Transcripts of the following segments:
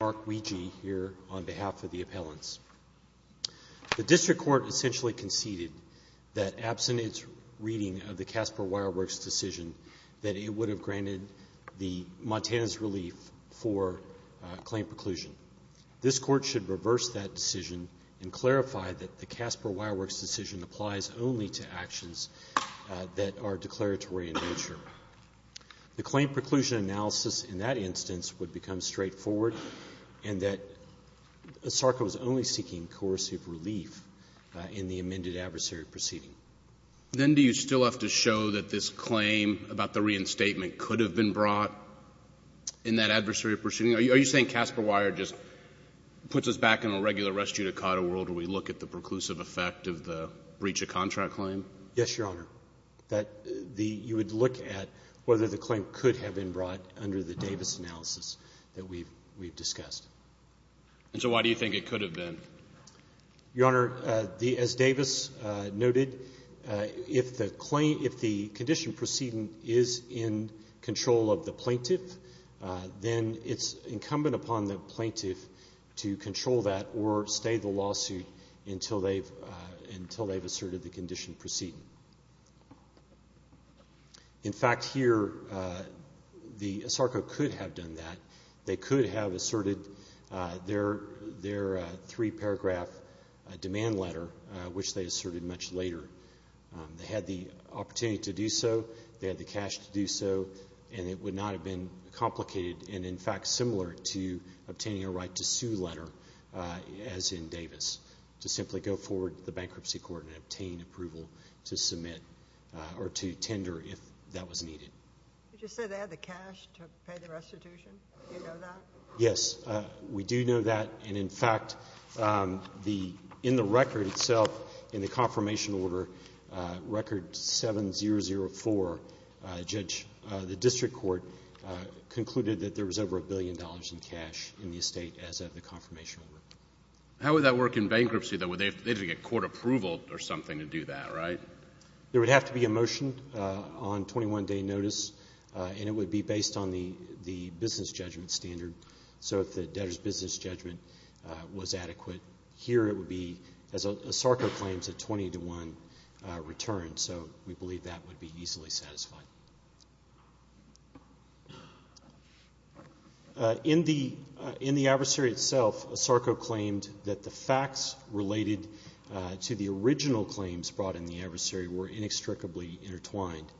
Mark Weegee here on behalf of the appellants. The district court essentially conceded that absent its reading of the Casper Wireworks decision that it would have granted the Montana's relief for claim preclusion. This court should reverse that decision and clarify that the Casper Wireworks decision applies only to actions that are declaratory in nature. The claim preclusion analysis in that instance would become straightforward and that Asarco is only seeking coercive relief in the amended adversary proceeding. Then do you still have to show that this claim about the reinstatement could have been brought in that adversary proceeding? Are you saying Casper Wire just puts us back in a regular res judicata world where we look at the preclusive effect of the breach of contract claim? Yes, Your Honor. That you would look at whether the claim could have been brought under the Davis analysis that we've discussed. And so why do you think it could have been? Your Honor, as Davis noted, if the condition proceeding is in control of the plaintiff, then it's incumbent upon the plaintiff to control that or stay the lawsuit until they've asserted the condition proceeding. In fact, here, Asarco could have done that. They could have asserted their three-paragraph demand letter, which they asserted much later. They had the opportunity to do so, they had the cash to do so, and it would not have been complicated and, in fact, similar to obtaining a right to sue letter, as in Davis, to simply go forward to the bankruptcy court and obtain approval to submit or to tender if that was needed. Did you say they had the cash to pay the restitution? Do you know that? Yes. We do know that. And, in fact, in the record itself, in the confirmation order, Record 7004, the district court concluded that there was over a billion dollars in cash in the estate as of the confirmation order. How would that work in bankruptcy, though? They'd have to get court approval or something to do that, right? There would have to be a motion on 21-day notice, and it would be based on the business judgment standard. So if the debtor's business judgment was adequate, here it would be, as Asarco claims, a 20-to-1 return. So we believe that would be easily satisfied. In the adversary itself, Asarco claimed that the facts related to the original claims brought in the adversary were inextricably intertwined,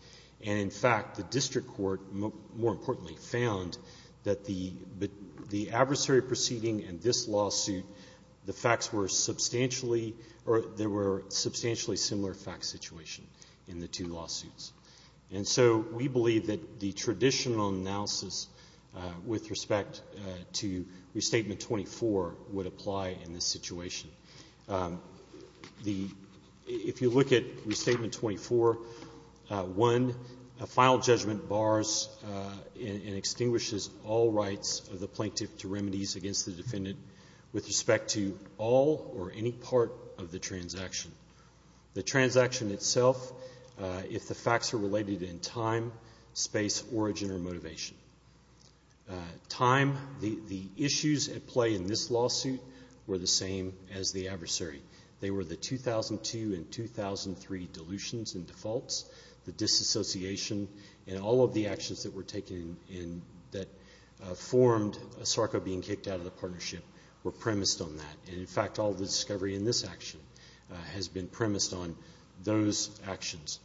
and, in fact, the district court, more importantly, found that the adversary proceeding and this lawsuit, the facts were substantially or there were substantially similar fact situation in the two lawsuits. And so we believe that the traditional analysis with respect to Restatement 24 would apply in this situation. The — if you look at Restatement 24-1, a final judgment bars and extinguishes all rights of the plaintiff to remedies against the defendant with respect to all or any part of the transaction. The transaction itself, if the facts are related in time, space, origin, or motivation, time, the issues at play in this lawsuit were the same as the adversary. They were the 2002 and 2003 dilutions and defaults, the disassociation, and all of the actions that were taken in — that formed Asarco being kicked out of the partnership were premised on that. And, in fact, all of the discovery in this action has been premised on those actions.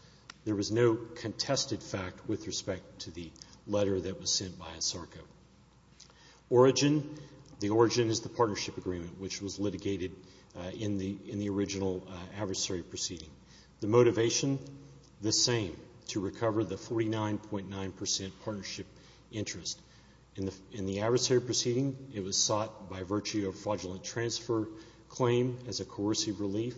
There was no contested fact with respect to the letter that was sent by Asarco. Origin, the origin is the partnership agreement, which was litigated in the original adversary proceeding. The motivation, the same, to recover the 49.9 percent partnership interest. In the adversary proceeding, it was sought by virtue of fraudulent transfer claim as a coercive relief,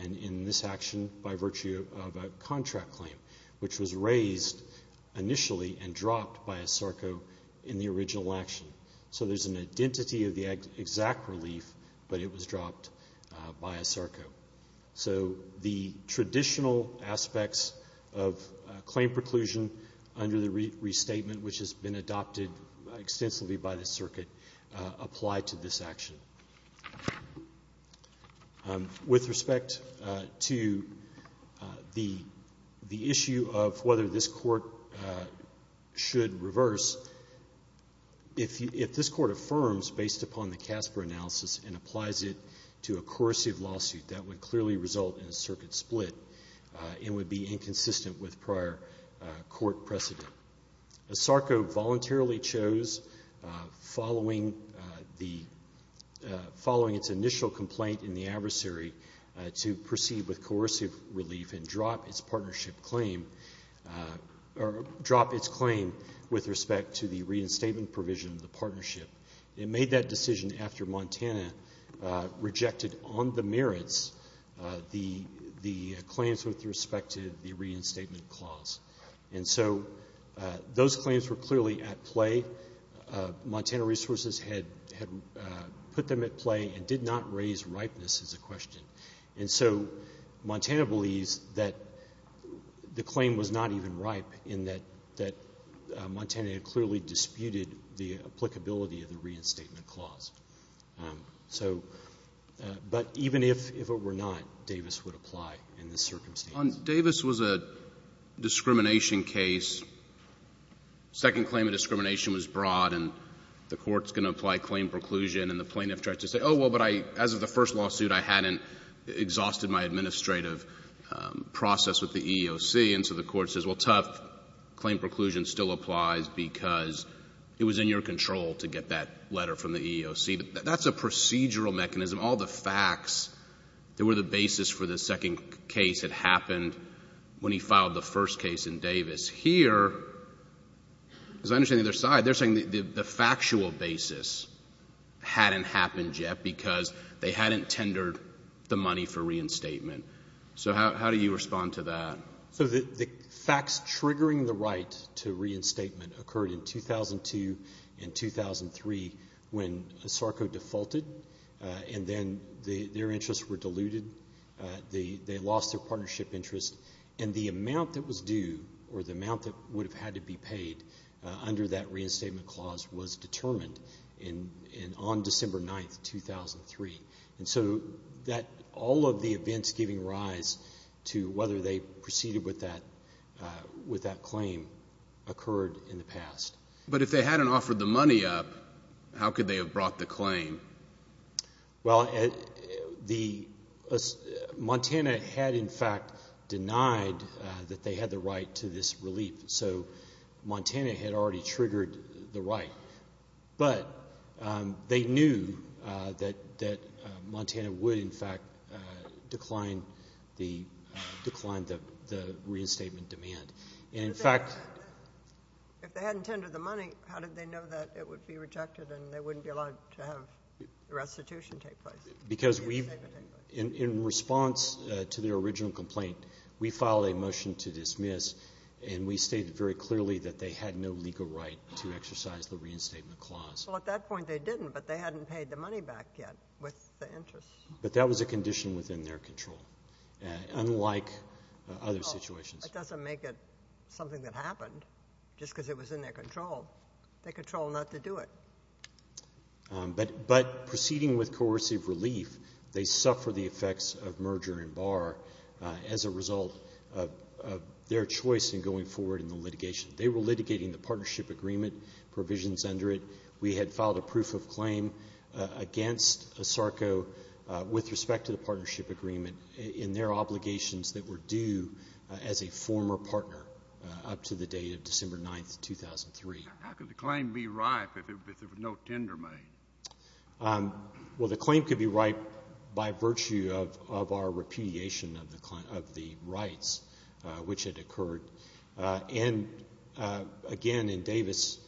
and in this action by virtue of a contract claim, which was raised initially and dropped by Asarco in the original action. So there's an identity of the exact relief, but it was dropped by Asarco. So the traditional aspects of claim preclusion under the restatement, which has been adopted extensively by the circuit, apply to this action. With respect to the issue of whether this Court should reverse, if this Court affirms based upon the CASPER analysis and applies it to a coercive lawsuit, that would clearly result in a circuit split and would be inconsistent with prior Court precedent. Asarco voluntarily chose, following its initial complaint in the adversary, to proceed with coercive relief and drop its partnership claim, or drop its claim with respect to the reinstatement provision of the partnership. It made that decision after Montana rejected on the merits the claims with respect to the reinstatement clause. And so those claims were clearly at play. Montana Resources had put them at play and did not raise ripeness as a question. And so Montana believes that the claim was not even ripe in that Montana had clearly disputed the applicability of the reinstatement clause. So but even if it were not, Davis would apply in this circumstance. Davis was a discrimination case. Second claim of discrimination was brought, and the Court's going to apply claim preclusion. And the plaintiff tried to say, oh, well, but I, as of the first lawsuit, I hadn't exhausted my administrative process with the EEOC. And so the Court says, well, tough, claim preclusion still applies because it was in your control to get that letter from the EEOC. That's a procedural mechanism. All the facts that were the basis for the second case had happened when he filed the first case in Davis. Here, as I understand on the other side, they're saying the factual basis hadn't happened yet because they hadn't tendered the money for reinstatement. So how do you respond to that? So the facts triggering the right to reinstatement occurred in 2002 and 2003 when SARCO defaulted, and then their interests were diluted. They lost their partnership interest. And the amount that was due or the amount that would have had to be paid under that reinstatement clause was determined on December 9, 2003. And so all of the events giving rise to whether they proceeded with that claim occurred in the past. But if they hadn't offered the money up, how could they have brought the claim? Well, Montana had, in fact, denied that they had the right to this relief. So Montana had already triggered the right. But they knew that Montana would, in fact, decline the reinstatement demand. And in fact, if they hadn't tendered the money, how did they know that it would be rejected and they wouldn't be allowed to have the restitution take place? Because we've, in response to their original complaint, we filed a motion to dismiss. And we stated very clearly that they had no legal right to exercise the reinstatement clause. Well, at that point, they didn't, but they hadn't paid the money back yet with the interest. But that was a condition within their control, unlike other situations. It doesn't make it something that happened just because it was in their control. They control not to do it. But proceeding with coercive relief, they suffer the effects of merger and bar as a choice in going forward in the litigation. They were litigating the partnership agreement provisions under it. We had filed a proof of claim against ASARCO with respect to the partnership agreement in their obligations that were due as a former partner up to the date of December 9th, 2003. How could the claim be ripe if there was no tender made? Well, the claim could be ripe by virtue of our repudiation of the rights, which had occurred. And again, in Davis,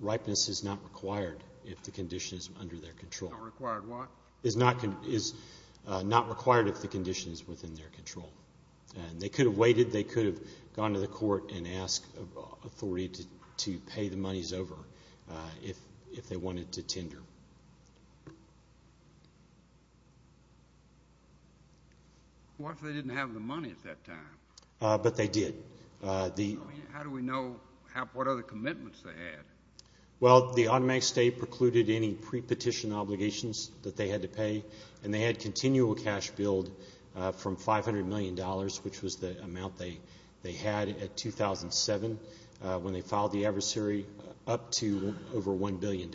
ripeness is not required if the condition is under their control. Not required what? Is not required if the condition is within their control. They could have waited. They could have gone to the court and asked authority to pay the monies over if they wanted to tender. What if they didn't have the money at that time? But they did. How do we know what other commitments they had? Well, the automatic stay precluded any pre-petition obligations that they had to pay. And they had continual cash billed from $500 million, which was the amount they had at 2007 when they filed the adversary, up to over $1 billion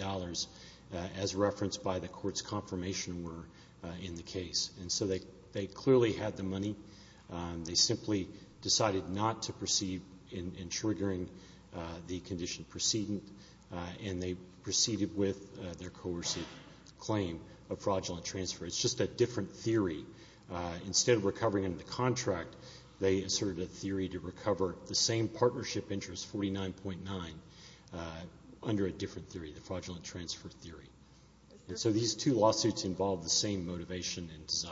as referenced by the court's confirmation were in the case. And so they clearly had the money. They simply decided not to proceed in triggering the condition preceding, and they proceeded with their coercive claim of fraudulent transfer. It's just a different theory. Instead of recovering under the contract, they asserted a theory to recover the same partnership interest, 49.9, under a different theory, the fraudulent transfer theory. And so these two lawsuits involved the same motivation and desire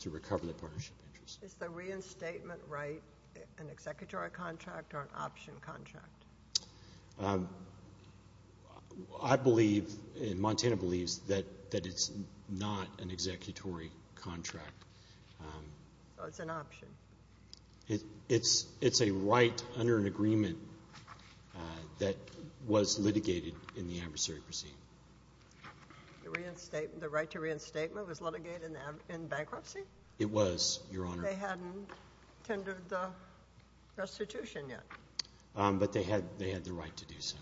to recover the same partnership interest. Is the reinstatement right an executory contract or an option contract? I believe, and Montana believes, that it's not an executory contract. So it's an option? It's a right under an agreement that was litigated in the adversary proceeding. The right to reinstatement was litigated in bankruptcy? It was, Your Honor. They hadn't tendered the restitution yet. But they had the right to do so.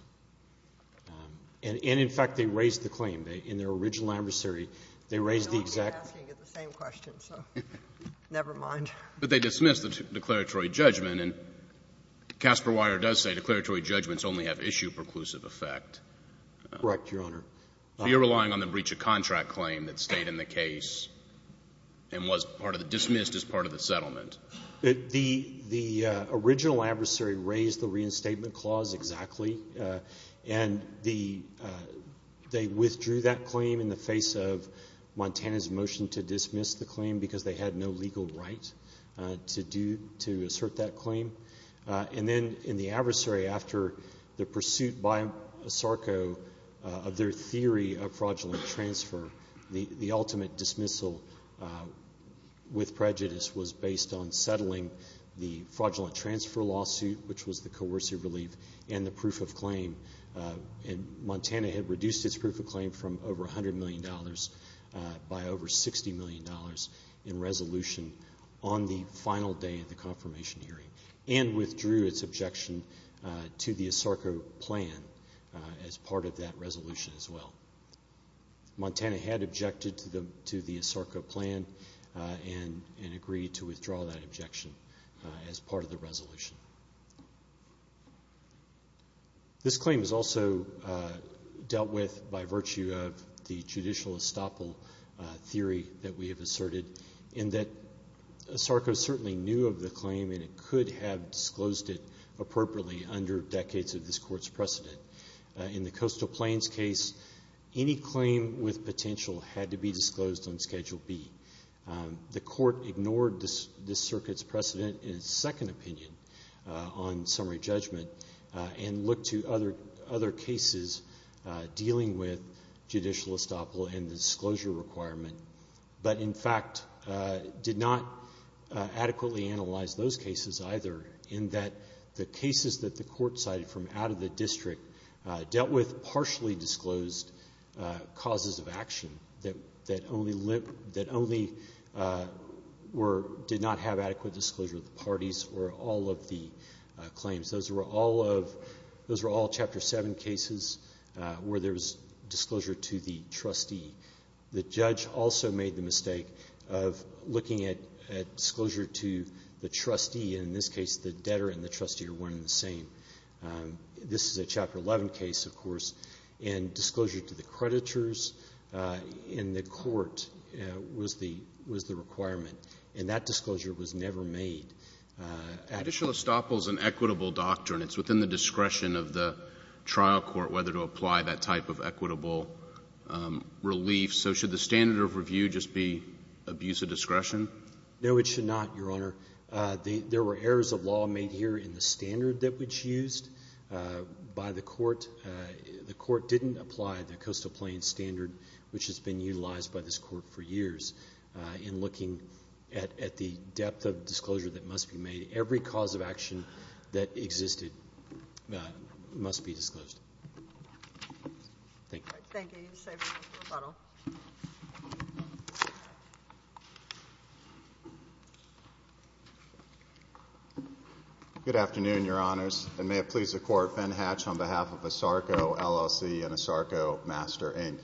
And in fact, they raised the claim. In their original adversary, they raised the exact question, so never mind. But they dismissed the declaratory judgment, and Casper Weier does say declaratory judgments only have issue-preclusive effect. Correct, Your Honor. You're relying on the breach of contract claim that stayed in the case and was dismissed as part of the settlement. The original adversary raised the reinstatement clause exactly, and they withdrew that claim in the face of Montana's motion to dismiss the claim because they had no legal right to assert that claim. And then in the adversary, after the pursuit by ASARCO of their theory of fraudulent transfer, the ultimate dismissal with prejudice was based on settling the fraudulent transfer lawsuit, which was the coercive relief, and the proof of claim. And Montana had reduced its proof of claim from over $100 million by over $60 million in resolution on the final day of the confirmation hearing, and withdrew its objection to the ASARCO plan as part of that resolution as well. Montana had objected to the ASARCO plan and agreed to withdraw that objection as part of the resolution. This claim is also dealt with by virtue of the judicial estoppel theory that we have asserted, in that ASARCO certainly knew of the claim and it could have disclosed it appropriately under decades of this Court's precedent. In the Coastal Plains case, any claim with potential had to be disclosed on Schedule B. The Court ignored this Circuit's precedent in its second opinion on summary judgment and looked to other cases dealing with judicial estoppel and the disclosure requirement, but in fact did not adequately analyze those cases either, in that the cases that the Court cited from out of the district dealt with partially disclosed causes of action that only did not have adequate disclosure of the parties or all of the claims. Those were all Chapter 7 cases where there was disclosure to the trustee. The judge also made the mistake of looking at disclosure to the trustee, and in this case the debtor and the trustee are one and the same. This is a Chapter 11 case, of course, and disclosure to the creditors in the Court was the requirement, and that disclosure was never made at all. The judicial estoppel is an equitable doctrine. It's within the discretion of the trial court whether to apply that type of equitable relief. So should the standard of review just be abuse of discretion? No, it should not, Your Honor. There were errors of law made here in the standard that was used by the Court. The Court didn't apply the Coastal Plains standard, which has been utilized by this Court for years, in looking at the depth of disclosure that must be made. Every cause of action that existed must be disclosed. Thank you. Thank you. I'll leave the stage for rebuttal. Good afternoon, Your Honors, and may it please the Court, Ben Hatch on behalf of ASARCO, LLC, and ASARCO Master, Inc.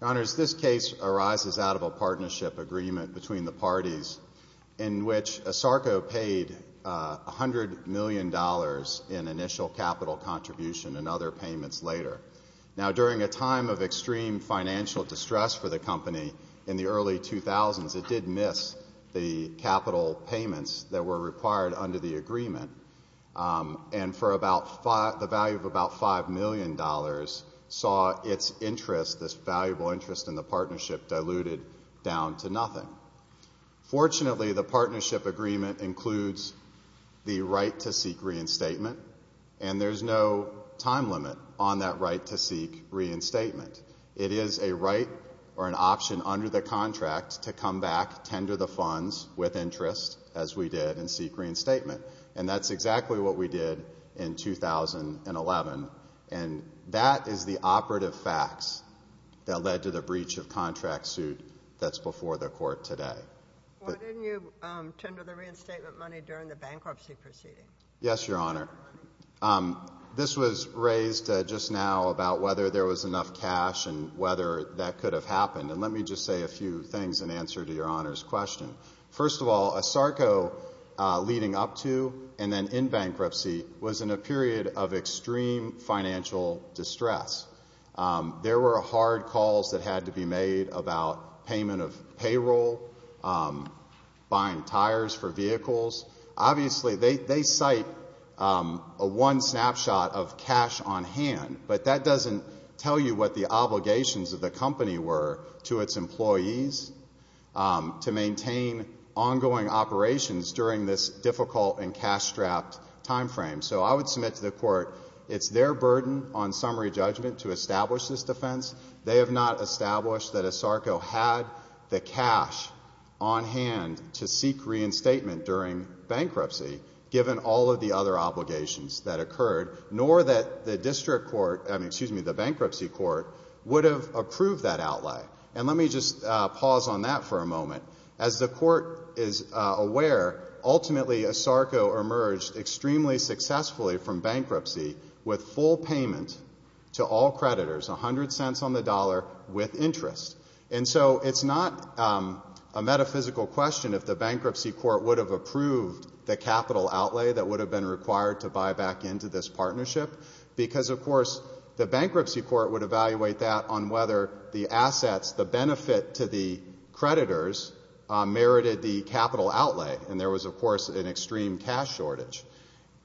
Your Honors, this case arises out of a partnership agreement between the parties in which ASARCO paid $100 million in initial capital contribution and other payments later. Now, during a time of extreme financial distress for the company in the early 2000s, it did miss the capital payments that were required under the agreement, and for the value of about $5 million saw its interest, this valuable interest in the partnership, diluted down to nothing. Fortunately, the partnership agreement includes the right to seek reinstatement. It is a right or an option under the contract to come back, tender the funds with interest, as we did, and seek reinstatement. And that's exactly what we did in 2011, and that is the operative facts that led to the breach of contract suit that's before the Court today. Why didn't you tender the reinstatement money during the bankruptcy proceeding? Yes, Your Honor. This was raised just now about whether there was enough cash and whether that could have happened, and let me just say a few things in answer to Your Honor's question. First of all, ASARCO, leading up to and then in bankruptcy, was in a period of extreme financial distress. There were hard calls that had to be made about payment of payroll, buying tires for vehicles. Obviously, they cite a one snapshot of cash on hand, but that doesn't tell you what the obligations of the company were to its employees to maintain ongoing operations during this difficult and cash-strapped time frame. So I would submit to the Court, it's their burden on summary judgment to establish this defense. They have not established that ASARCO had the cash on hand to seek reinstatement during bankruptcy, given all of the other obligations that occurred, nor that the district court, I mean, excuse me, the bankruptcy court, would have approved that outlay. And let me just pause on that for a moment. As the Court is aware, ultimately ASARCO emerged extremely successfully from bankruptcy with full payment to all creditors, 100 cents on the dollar with interest. And so it's not a metaphysical question if the bankruptcy court would have approved the capital outlay that would have been required to buy back into this partnership, because, of course, the bankruptcy court would evaluate that on whether the assets, the benefit to the creditors merited the capital outlay. And there was, of course, an extreme cash shortage.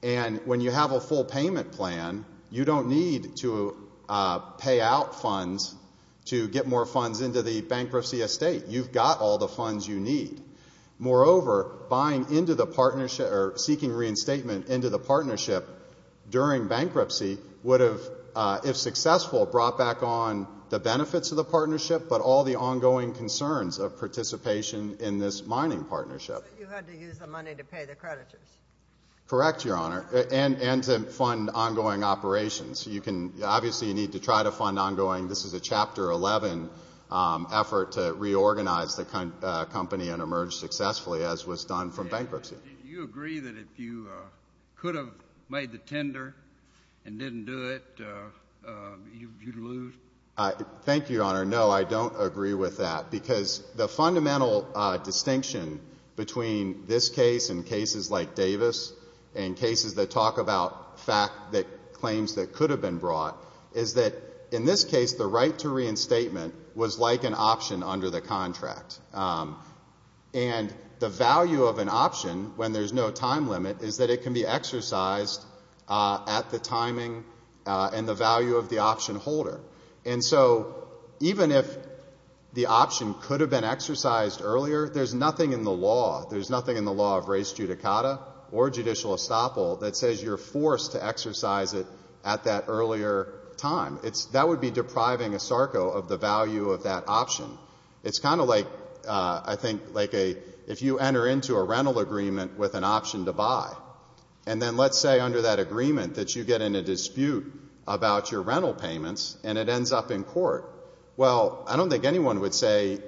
And when you have a full payment plan, you don't need to pay out funds to get more funds into the bankruptcy estate. You've got all the funds you need. Moreover, buying into the partnership or seeking reinstatement into the partnership during bankruptcy would have, if successful, brought back on the benefits of the partnership, but all the ongoing concerns of participation in this mining partnership. You had to use the money to pay the creditors. Correct, Your Honor, and to fund ongoing operations. Obviously, you need to try to fund ongoing. This is a Chapter 11 effort to reorganize the company and emerge successfully, as was done from bankruptcy. Do you agree that if you could have made the tender and didn't do it, you'd lose? Thank you, Your Honor. No, I don't agree with that, because the fundamental distinction between this case and cases like Davis and cases that talk about claims that could have been brought is that, in this case, the right to reinstatement was like an option under the contract. And the value of an option, when there's no time limit, is that it can be exercised at the timing and the value of the option holder. And so, even if the option could have been exercised earlier, there's nothing in the law. There's nothing in the law of res judicata or judicial estoppel that says you're forced to exercise it at that earlier time. That would be depriving a SARCO of the value of that option. It's kind of like, I think, like if you enter into a rental agreement with an option to buy, and then let's say under that agreement that you get in a dispute about your rental payments and it ends up in court. Well, I don't think anyone would say,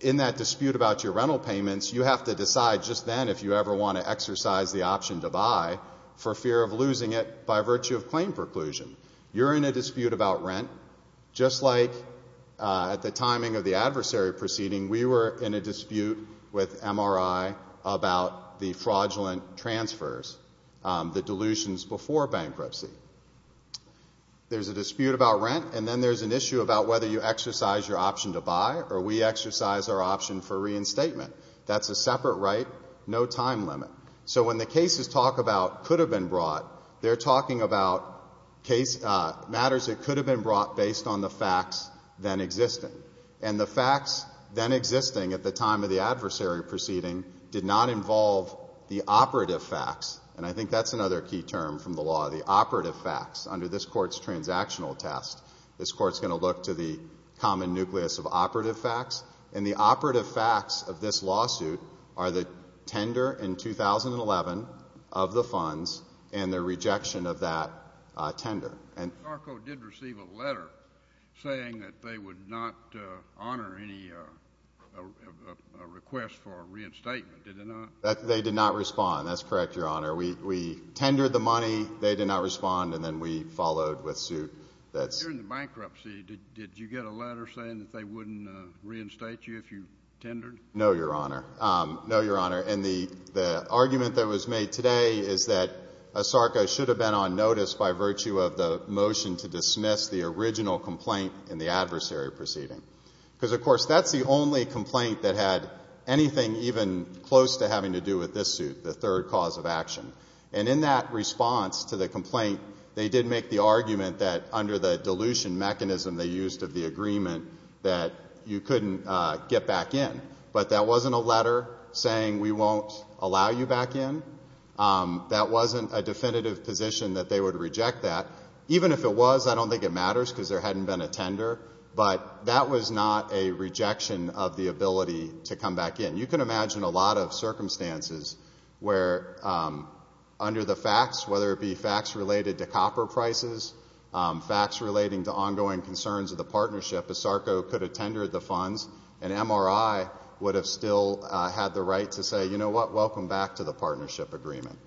in that dispute about your rental payments, you have to decide just then if you ever want to exercise the option to buy for fear of losing it by virtue of claim preclusion. You're in a dispute about rent. Just like at the timing of the adversary proceeding, we were in a dispute with MRI about the fraudulent transfers, the dilutions before bankruptcy. There's a dispute about rent, and then there's an issue about whether you exercise your option to buy or we exercise our option for reinstatement. That's a separate right, no time limit. So when the cases talk about could have been brought, they're talking about matters that could have been brought based on the facts then existing. And the facts then existing at the time of the adversary proceeding did not involve the operative facts. And I think that's another key term from the law, the operative facts. Under this Court's transactional test, this Court's going to look to the common nucleus of operative facts. And the operative facts of this lawsuit are the tender in 2011 of the funds and the rejection of that tender. And ARCO did receive a letter saying that they would not honor any request for reinstatement, did they not? They did not respond. That's correct, Your Honor. We tendered the money. They did not respond. And then we followed with suit. During the bankruptcy, did you get a letter saying that they wouldn't reinstate you if you tendered? No, Your Honor. No, Your Honor. And the argument that was made today is that ASARCA should have been on notice by virtue of the motion to dismiss the original complaint in the adversary proceeding. Because, of course, that's the only complaint that had anything even close to having to do with this suit, the third cause of action. And in that response to the complaint, they did make the argument that under the dilution mechanism they used of the agreement that you couldn't get back in. But that wasn't a letter saying we won't allow you back in. That wasn't a definitive position that they would reject that. Even if it was, I don't think it matters because there hadn't been a tender. But that was not a rejection of the ability to come back in. You can imagine a lot of circumstances where under the facts, whether it be facts related to copper prices, facts relating to ongoing concerns of the partnership, ASARCA could have tendered the funds and MRI would have still had the right to say, you know what, welcome back to the partnership agreement.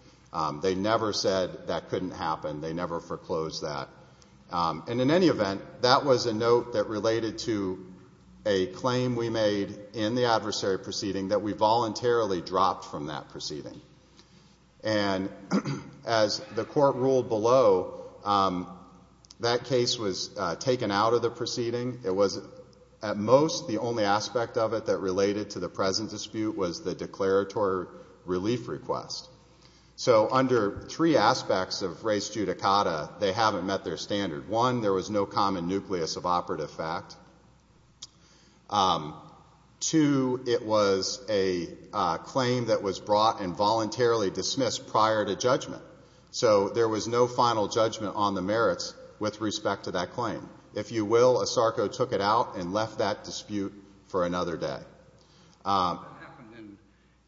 They never said that couldn't happen. They never foreclosed that. And in any event, that was a note that related to a claim we made in the adversary proceeding that we voluntarily dropped from that proceeding. And as the Court ruled below, that case was taken out of the proceeding. It was at most the only aspect of it that related to the present dispute was the declaratory relief request. So under three aspects of res judicata, they haven't met their standard. One, there was no common nucleus of operative fact. Two, it was a claim that was brought and voluntarily dismissed prior to judgment. So there was no final judgment on the merits with respect to that claim. If you will, ASARCA took it out and left that dispute for another day. That happened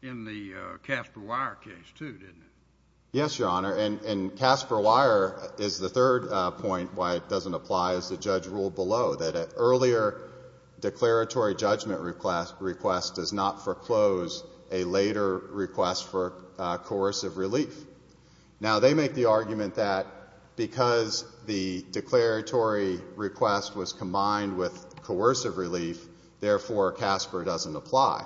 in the Casper Wire case too, didn't it? Yes, Your Honor. And Casper Wire is the third point why it doesn't apply as the judge ruled below, that an earlier declaratory judgment request does not foreclose a later request for coercive relief. Now, they make the argument that because the declaratory request was combined with coercive relief, therefore Casper doesn't apply.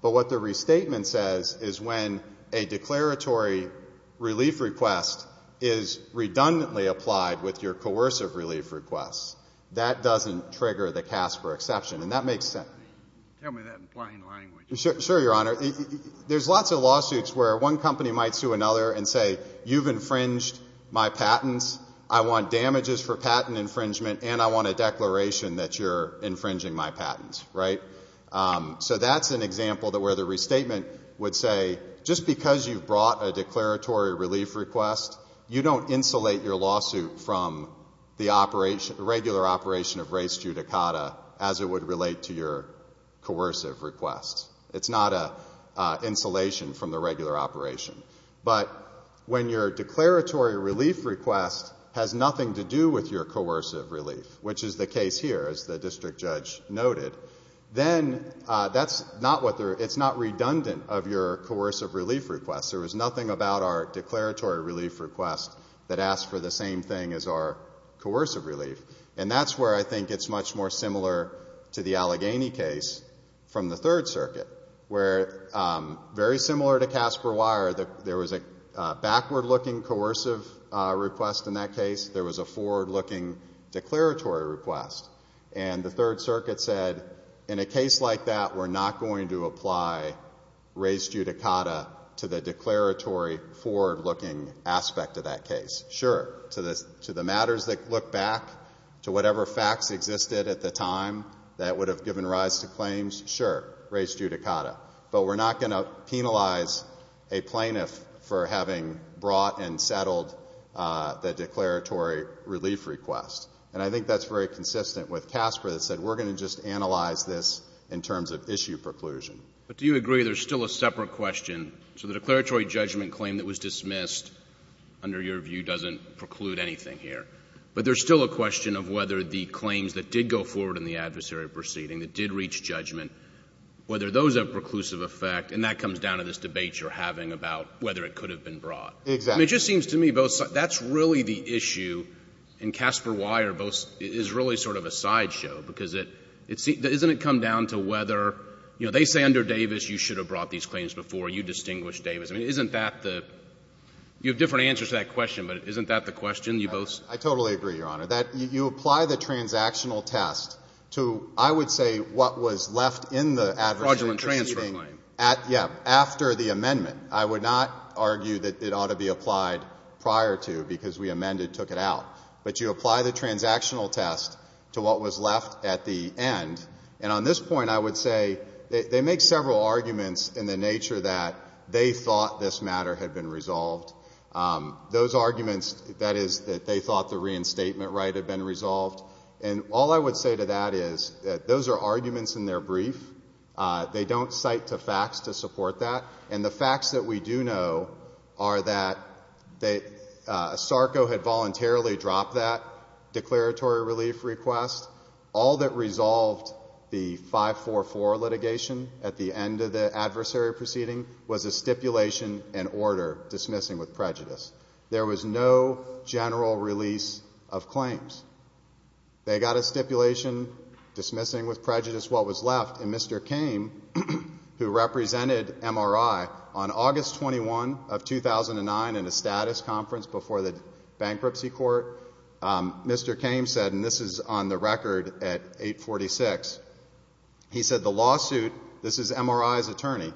But what the restatement says is when a declaratory relief request is redundantly applied with your coercive relief request, that doesn't trigger the Casper exception. And that makes sense. Tell me that in plain language. Sure, Your Honor. There's lots of lawsuits where one company might sue another and say, you've infringed my patents, I want damages for patent infringement, and I want a declaration that you're infringing my patents, right? So that's an example where the restatement would say, just because you've brought a declaratory relief request, you don't insulate your lawsuit from the operation, the regular operation of res judicata as it would relate to your coercive request. It's not an insulation from the regular operation. But when your declaratory relief request has nothing to do with your coercive relief, which is the case here, as the district judge noted, then that's not what they're, it's not redundant of your coercive relief request. There was nothing about our declaratory relief request that asked for the same thing as our coercive relief. And that's where I think it's much more similar to the Allegheny case from the Third Circuit, where, very similar to Casper Wire, there was a backward-looking coercive request in that case, there was a forward-looking declaratory request. And the Third Circuit said, in a case like that, we're not going to apply res judicata to the declaratory forward-looking aspect of that case. Sure, to the matters that look back to whatever facts existed at the time that would have given rise to claims, sure, res judicata. But we're not going to penalize a plaintiff for having brought and settled the declaratory relief request. And I think that's very consistent with Casper that said, we're going to just analyze this in terms of issue preclusion. But do you agree there's still a separate question? So the declaratory judgment claim that was dismissed, under your view, doesn't preclude anything here. But there's still a question of whether the claims that did go forward in the adversary proceeding, that did reach judgment, whether those have preclusive effect. And that comes down to this debate you're having about whether it could have been brought. Exactly. I mean, it just seems to me both sides. That's really the issue. And Casper Wyer is really sort of a sideshow, because it seems to me, doesn't it come down to whether, you know, they say under Davis you should have brought these claims before. You distinguished Davis. I mean, isn't that the you have different answers to that question, but isn't that the question you both? I totally agree, Your Honor. That you apply the transactional test to, I would say, what was left in the adversary proceeding. Fraudulent transfer claim. Yeah, after the amendment. I would not argue that it ought to be applied prior to, because we amended, took it out. But you apply the transactional test to what was left at the end. And on this point, I would say they make several arguments in the nature that they thought this matter had been resolved. Those arguments, that is, that they thought the reinstatement right had been resolved. And all I would say to that is that those are arguments in their brief. They don't cite to facts to support that. And the facts that we do know are that Sarko had voluntarily dropped that declaratory relief request. All that resolved the 544 litigation at the end of the adversary proceeding was a stipulation and order dismissing with prejudice. There was no general release of claims. They got a stipulation dismissing with prejudice what was left. And Mr. Kame, who represented MRI on August 21 of 2009 in a status conference before the bankruptcy court, Mr. Kame said, and this is on the record at 846, he said, the lawsuit, this is MRI's attorney,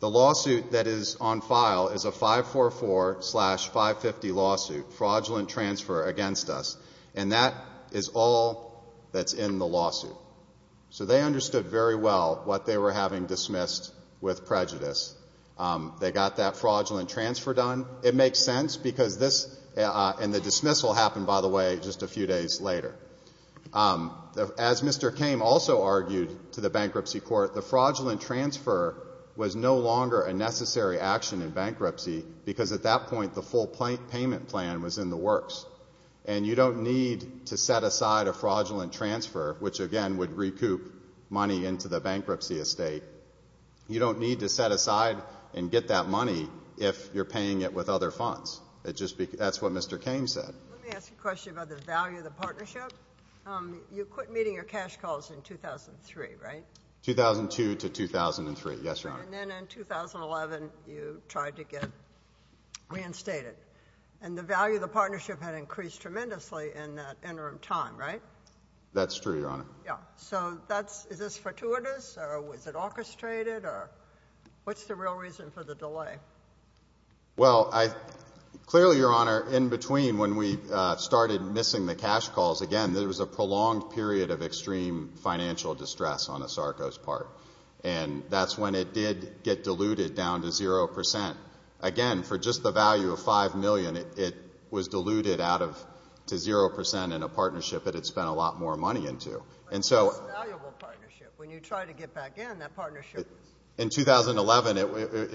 the lawsuit that is on file is a 544-550 lawsuit, fraudulent transfer against us. So they understood very well what they were having dismissed with prejudice. They got that fraudulent transfer done. It makes sense because this and the dismissal happened, by the way, just a few days later. As Mr. Kame also argued to the bankruptcy court, the fraudulent transfer was no longer a necessary action in bankruptcy because at that point the full payment plan was in the works. And you don't need to set aside a fraudulent transfer, which again would recoup money into the bankruptcy estate. You don't need to set aside and get that money if you're paying it with other funds. That's what Mr. Kame said. Let me ask a question about the value of the partnership. You quit meeting your cash calls in 2003, right? 2002 to 2003, yes, Your Honor. And then in 2011 you tried to get reinstated. And the value of the partnership had increased tremendously in that interim time, right? That's true, Your Honor. Yeah. So is this fortuitous or was it orchestrated or what's the real reason for the delay? Well, clearly, Your Honor, in between when we started missing the cash calls, again, there was a prolonged period of extreme financial distress on ASARCO's part. And that's when it did get diluted down to 0%. Again, for just the value of $5 million, it was diluted out to 0% in a partnership that it spent a lot more money into. But it's a valuable partnership. When you try to get back in, that partnership is. In 2011, it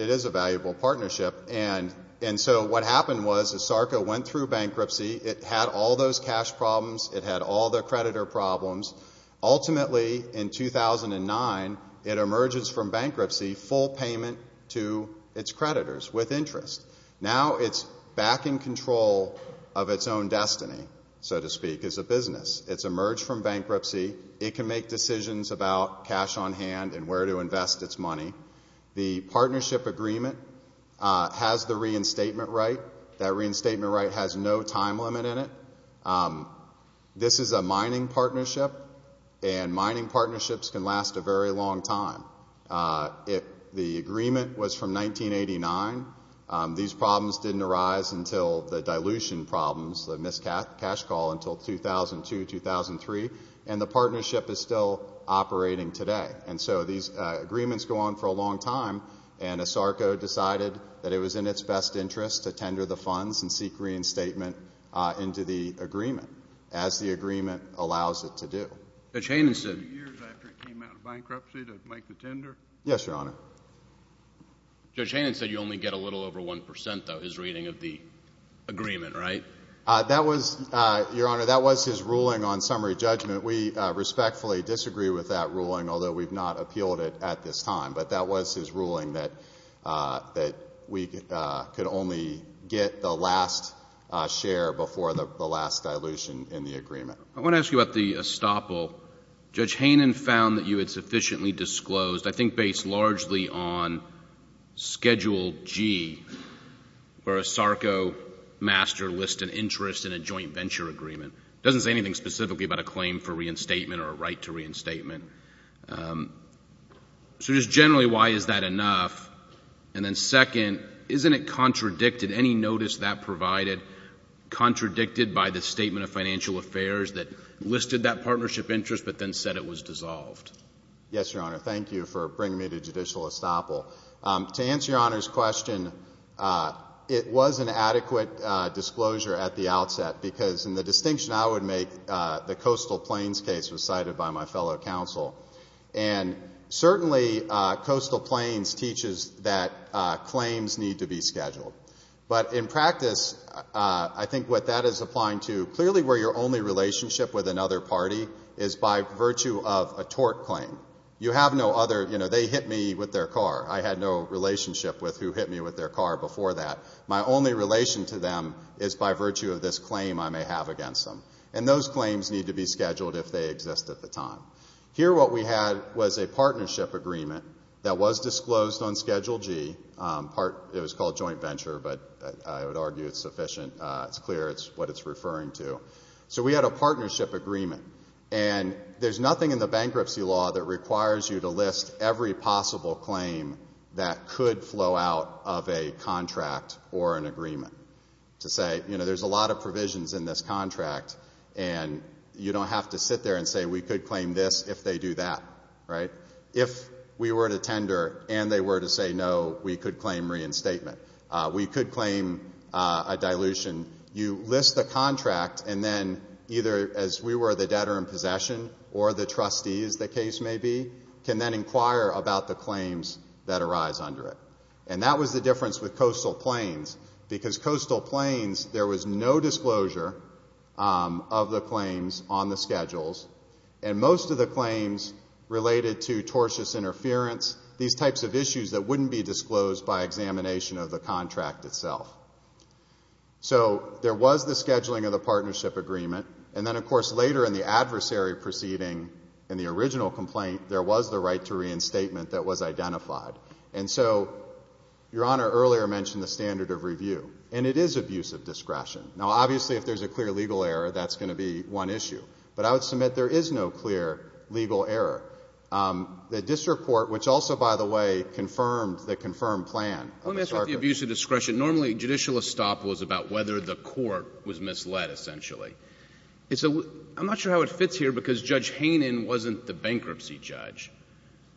is a valuable partnership. And so what happened was ASARCO went through bankruptcy. It had all those cash problems. It had all the creditor problems. Ultimately, in 2009, it emerges from bankruptcy full payment to its creditors with interest. Now it's back in control of its own destiny, so to speak, as a business. It's emerged from bankruptcy. It can make decisions about cash on hand and where to invest its money. The partnership agreement has the reinstatement right. That reinstatement right has no time limit in it. This is a mining partnership, and mining partnerships can last a very long time. The agreement was from 1989. These problems didn't arise until the dilution problems, the missed cash call until 2002, 2003. And the partnership is still operating today. And so these agreements go on for a long time, and ASARCO decided that it was in its best interest to tender the funds and seek reinstatement into the agreement as the agreement allows it to do. Judge Hanen said you only get a little over 1 percent, though, his reading of the agreement, right? That was, Your Honor, that was his ruling on summary judgment. We respectfully disagree with that ruling, although we've not appealed it at this time. But that was his ruling that we could only get the last share before the last dilution in the agreement. I want to ask you about the estoppel. Judge Hanen found that you had sufficiently disclosed, I think based largely on Schedule G, where ASARCO master lists an interest in a joint venture agreement. It doesn't say anything specifically about a claim for reinstatement or a right to reinstatement. So just generally, why is that enough? And then second, isn't it contradicted, any notice that provided, contradicted by the Statement of Financial Affairs that listed that partnership interest but then said it was dissolved? Yes, Your Honor. Thank you for bringing me to judicial estoppel. To answer Your Honor's question, it was an adequate disclosure at the outset, because in the distinction I would make, the Coastal Plains case was cited by my fellow counsel. And certainly Coastal Plains teaches that claims need to be scheduled. But in practice, I think what that is applying to, clearly where your only relationship with another party is by virtue of a tort claim. You have no other, you know, they hit me with their car. I had no relationship with who hit me with their car before that. My only relation to them is by virtue of this claim I may have against them. And those claims need to be scheduled if they exist at the time. Here what we had was a partnership agreement that was disclosed on Schedule G. It was called joint venture, but I would argue it's sufficient. It's clear what it's referring to. So we had a partnership agreement. And there's nothing in the bankruptcy law that requires you to list every possible claim that could flow out of a contract or an agreement to say, you know, there's a lot of provisions in this contract, and you don't have to sit there and say we could claim this if they do that, right? If we were to tender and they were to say no, we could claim reinstatement. We could claim a dilution. You list the contract, and then either as we were the debtor in possession or the trustees, the case may be, can then inquire about the claims that arise under it. And that was the difference with coastal plains, because coastal plains there was no disclosure of the claims on the schedules. And most of the claims related to tortious interference, these types of issues that wouldn't be disclosed by examination of the contract itself. So there was the scheduling of the partnership agreement. And then, of course, later in the adversary proceeding in the original complaint, there was the right to reinstatement that was identified. And so Your Honor earlier mentioned the standard of review. And it is abuse of discretion. Now, obviously, if there's a clear legal error, that's going to be one issue. But I would submit there is no clear legal error. The district court, which also, by the way, confirmed the confirmed plan of the circuit. Let me ask about the abuse of discretion. Normally, judicial estoppel is about whether the court was misled, essentially. I'm not sure how it fits here, because Judge Hainan wasn't the bankruptcy judge.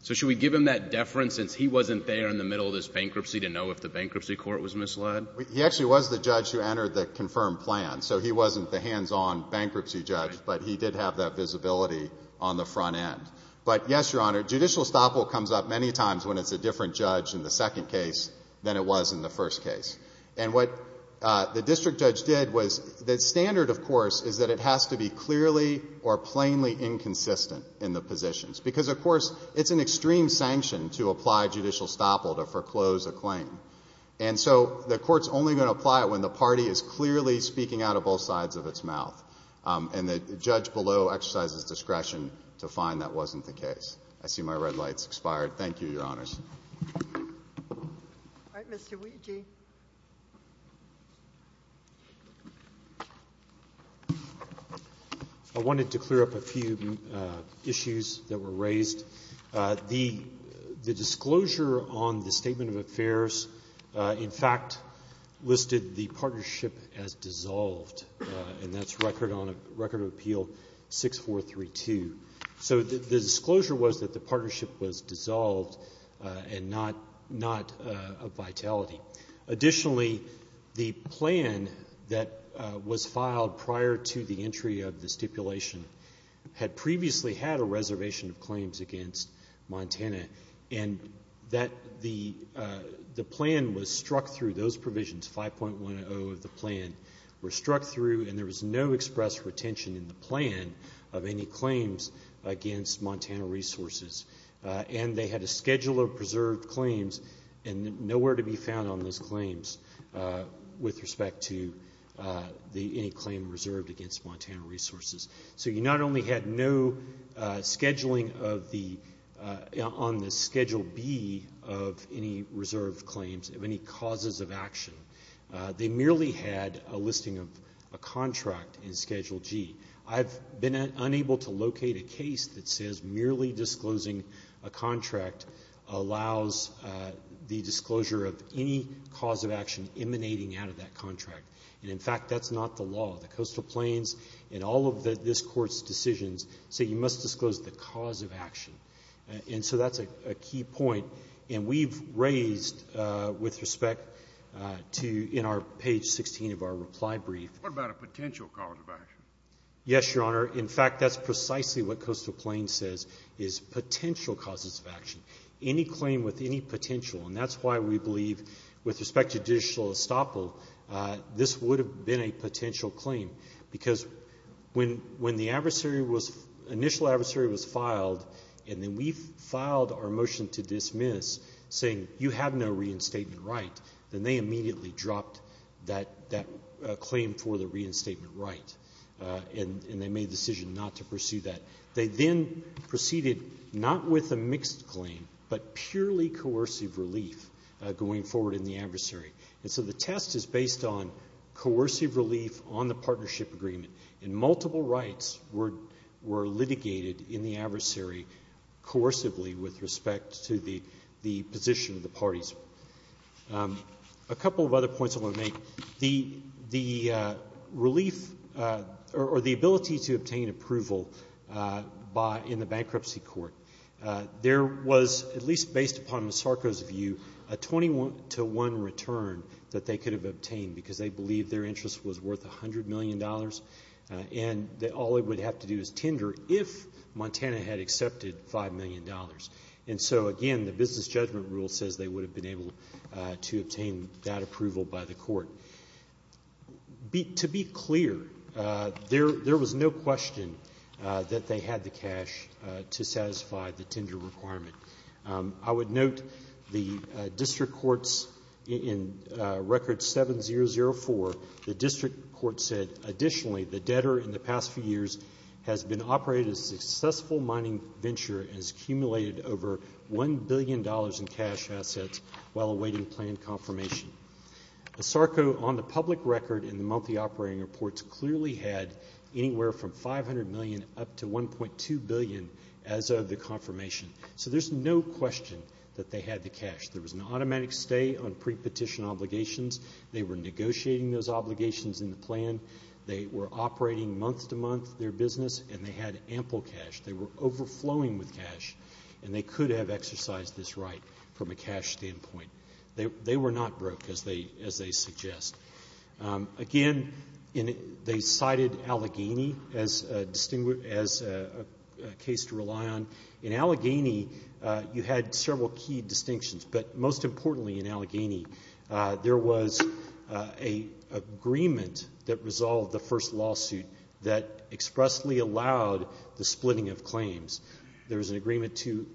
So should we give him that deference since he wasn't there in the middle of this bankruptcy to know if the bankruptcy court was misled? He actually was the judge who entered the confirmed plan. So he wasn't the hands-on bankruptcy judge, but he did have that visibility on the front end. But, yes, Your Honor, judicial estoppel comes up many times when it's a different judge in the second case than it was in the first case. And what the district judge did was the standard, of course, is that it has to be clearly or plainly inconsistent in the positions. Because, of course, it's an extreme sanction to apply judicial estoppel to foreclose a claim. And so the court's only going to apply it when the party is clearly speaking out of both sides of its mouth. And the judge below exercises discretion to find that wasn't the case. I see my red light's expired. Thank you, Your Honors. All right. Mr. Weegee. I wanted to clear up a few issues that were raised. The disclosure on the Statement of Affairs, in fact, listed the partnership as dissolved, and that's record of appeal 6432. So the disclosure was that the partnership was dissolved and not of vitality. Additionally, the plan that was filed prior to the entry of the stipulation had previously had a reservation of claims against Montana, and that the plan was struck through. Those provisions, 5.10 of the plan, were struck through, and there was no express retention in the plan of any claims against Montana Resources. And they had a schedule of preserved claims and nowhere to be found on those claims with respect to any claim reserved against Montana Resources. So you not only had no scheduling on the Schedule B of any reserved claims of any causes of action, they merely had a listing of a contract in Schedule G. I've been unable to locate a case that says merely disclosing a contract allows the disclosure of any cause of action emanating out of that contract. And, in fact, that's not the law. The coastal plains in all of this Court's decisions say you must disclose the cause of action. And so that's a key point. And we've raised with respect to in our page 16 of our reply brief. What about a potential cause of action? Yes, Your Honor. In fact, that's precisely what coastal plains says is potential causes of action. Any claim with any potential, and that's why we believe with respect to judicial estoppel this would have been a potential claim, because when the adversary was – initial adversary was filed and then we filed our motion to dismiss saying you have no reinstatement right, then they immediately dropped that claim for the reinstatement right, and they made the decision not to pursue that. They then proceeded not with a mixed claim but purely coercive relief going forward in the adversary. And so the test is based on coercive relief on the partnership agreement, and multiple rights were litigated in the adversary coercively with respect to the position of the parties. A couple of other points I want to make. The relief or the ability to obtain approval in the bankruptcy court, there was, at least based upon Masarco's view, a 21-to-1 return that they could have obtained because they believed their interest was worth $100 million and that all they would have to do is tender if Montana had accepted $5 million. And so, again, the business judgment rule says they would have been able to obtain that approval by the court. To be clear, there was no question that they had the cash to satisfy the tender requirement. I would note the district courts in Record 7004, the district court said, additionally, the debtor in the past few years has been operating a successful mining venture and has accumulated over $1 billion in cash assets while awaiting planned confirmation. Masarco, on the public record in the monthly operating reports, clearly had anywhere from $500 million up to $1.2 billion as of the confirmation. So there's no question that they had the cash. There was an automatic stay on prepetition obligations. They were negotiating those obligations in the plan. They were operating month-to-month their business, and they had ample cash. They were overflowing with cash, and they could have exercised this right from a cash standpoint. They were not broke, as they suggest. Again, they cited Allegheny as a case to rely on. In Allegheny, you had several key distinctions, but most importantly in Allegheny, there was an agreement that resolved the first lawsuit that expressly allowed the splitting of claims. There was an agreement to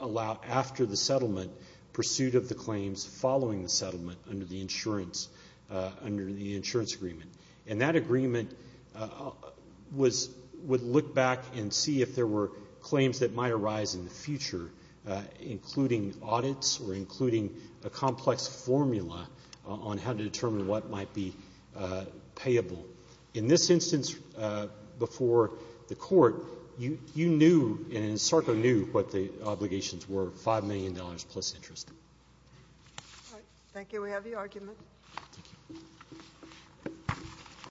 allow, after the settlement, pursuit of the claims following the settlement under the insurance agreement. And that agreement would look back and see if there were claims that might arise in the future, including audits or including a complex formula on how to determine what might be payable. In this instance before the court, you knew and Sarko knew what the obligations were, $5 million plus interest. All right. Thank you. We have the argument. Thank you.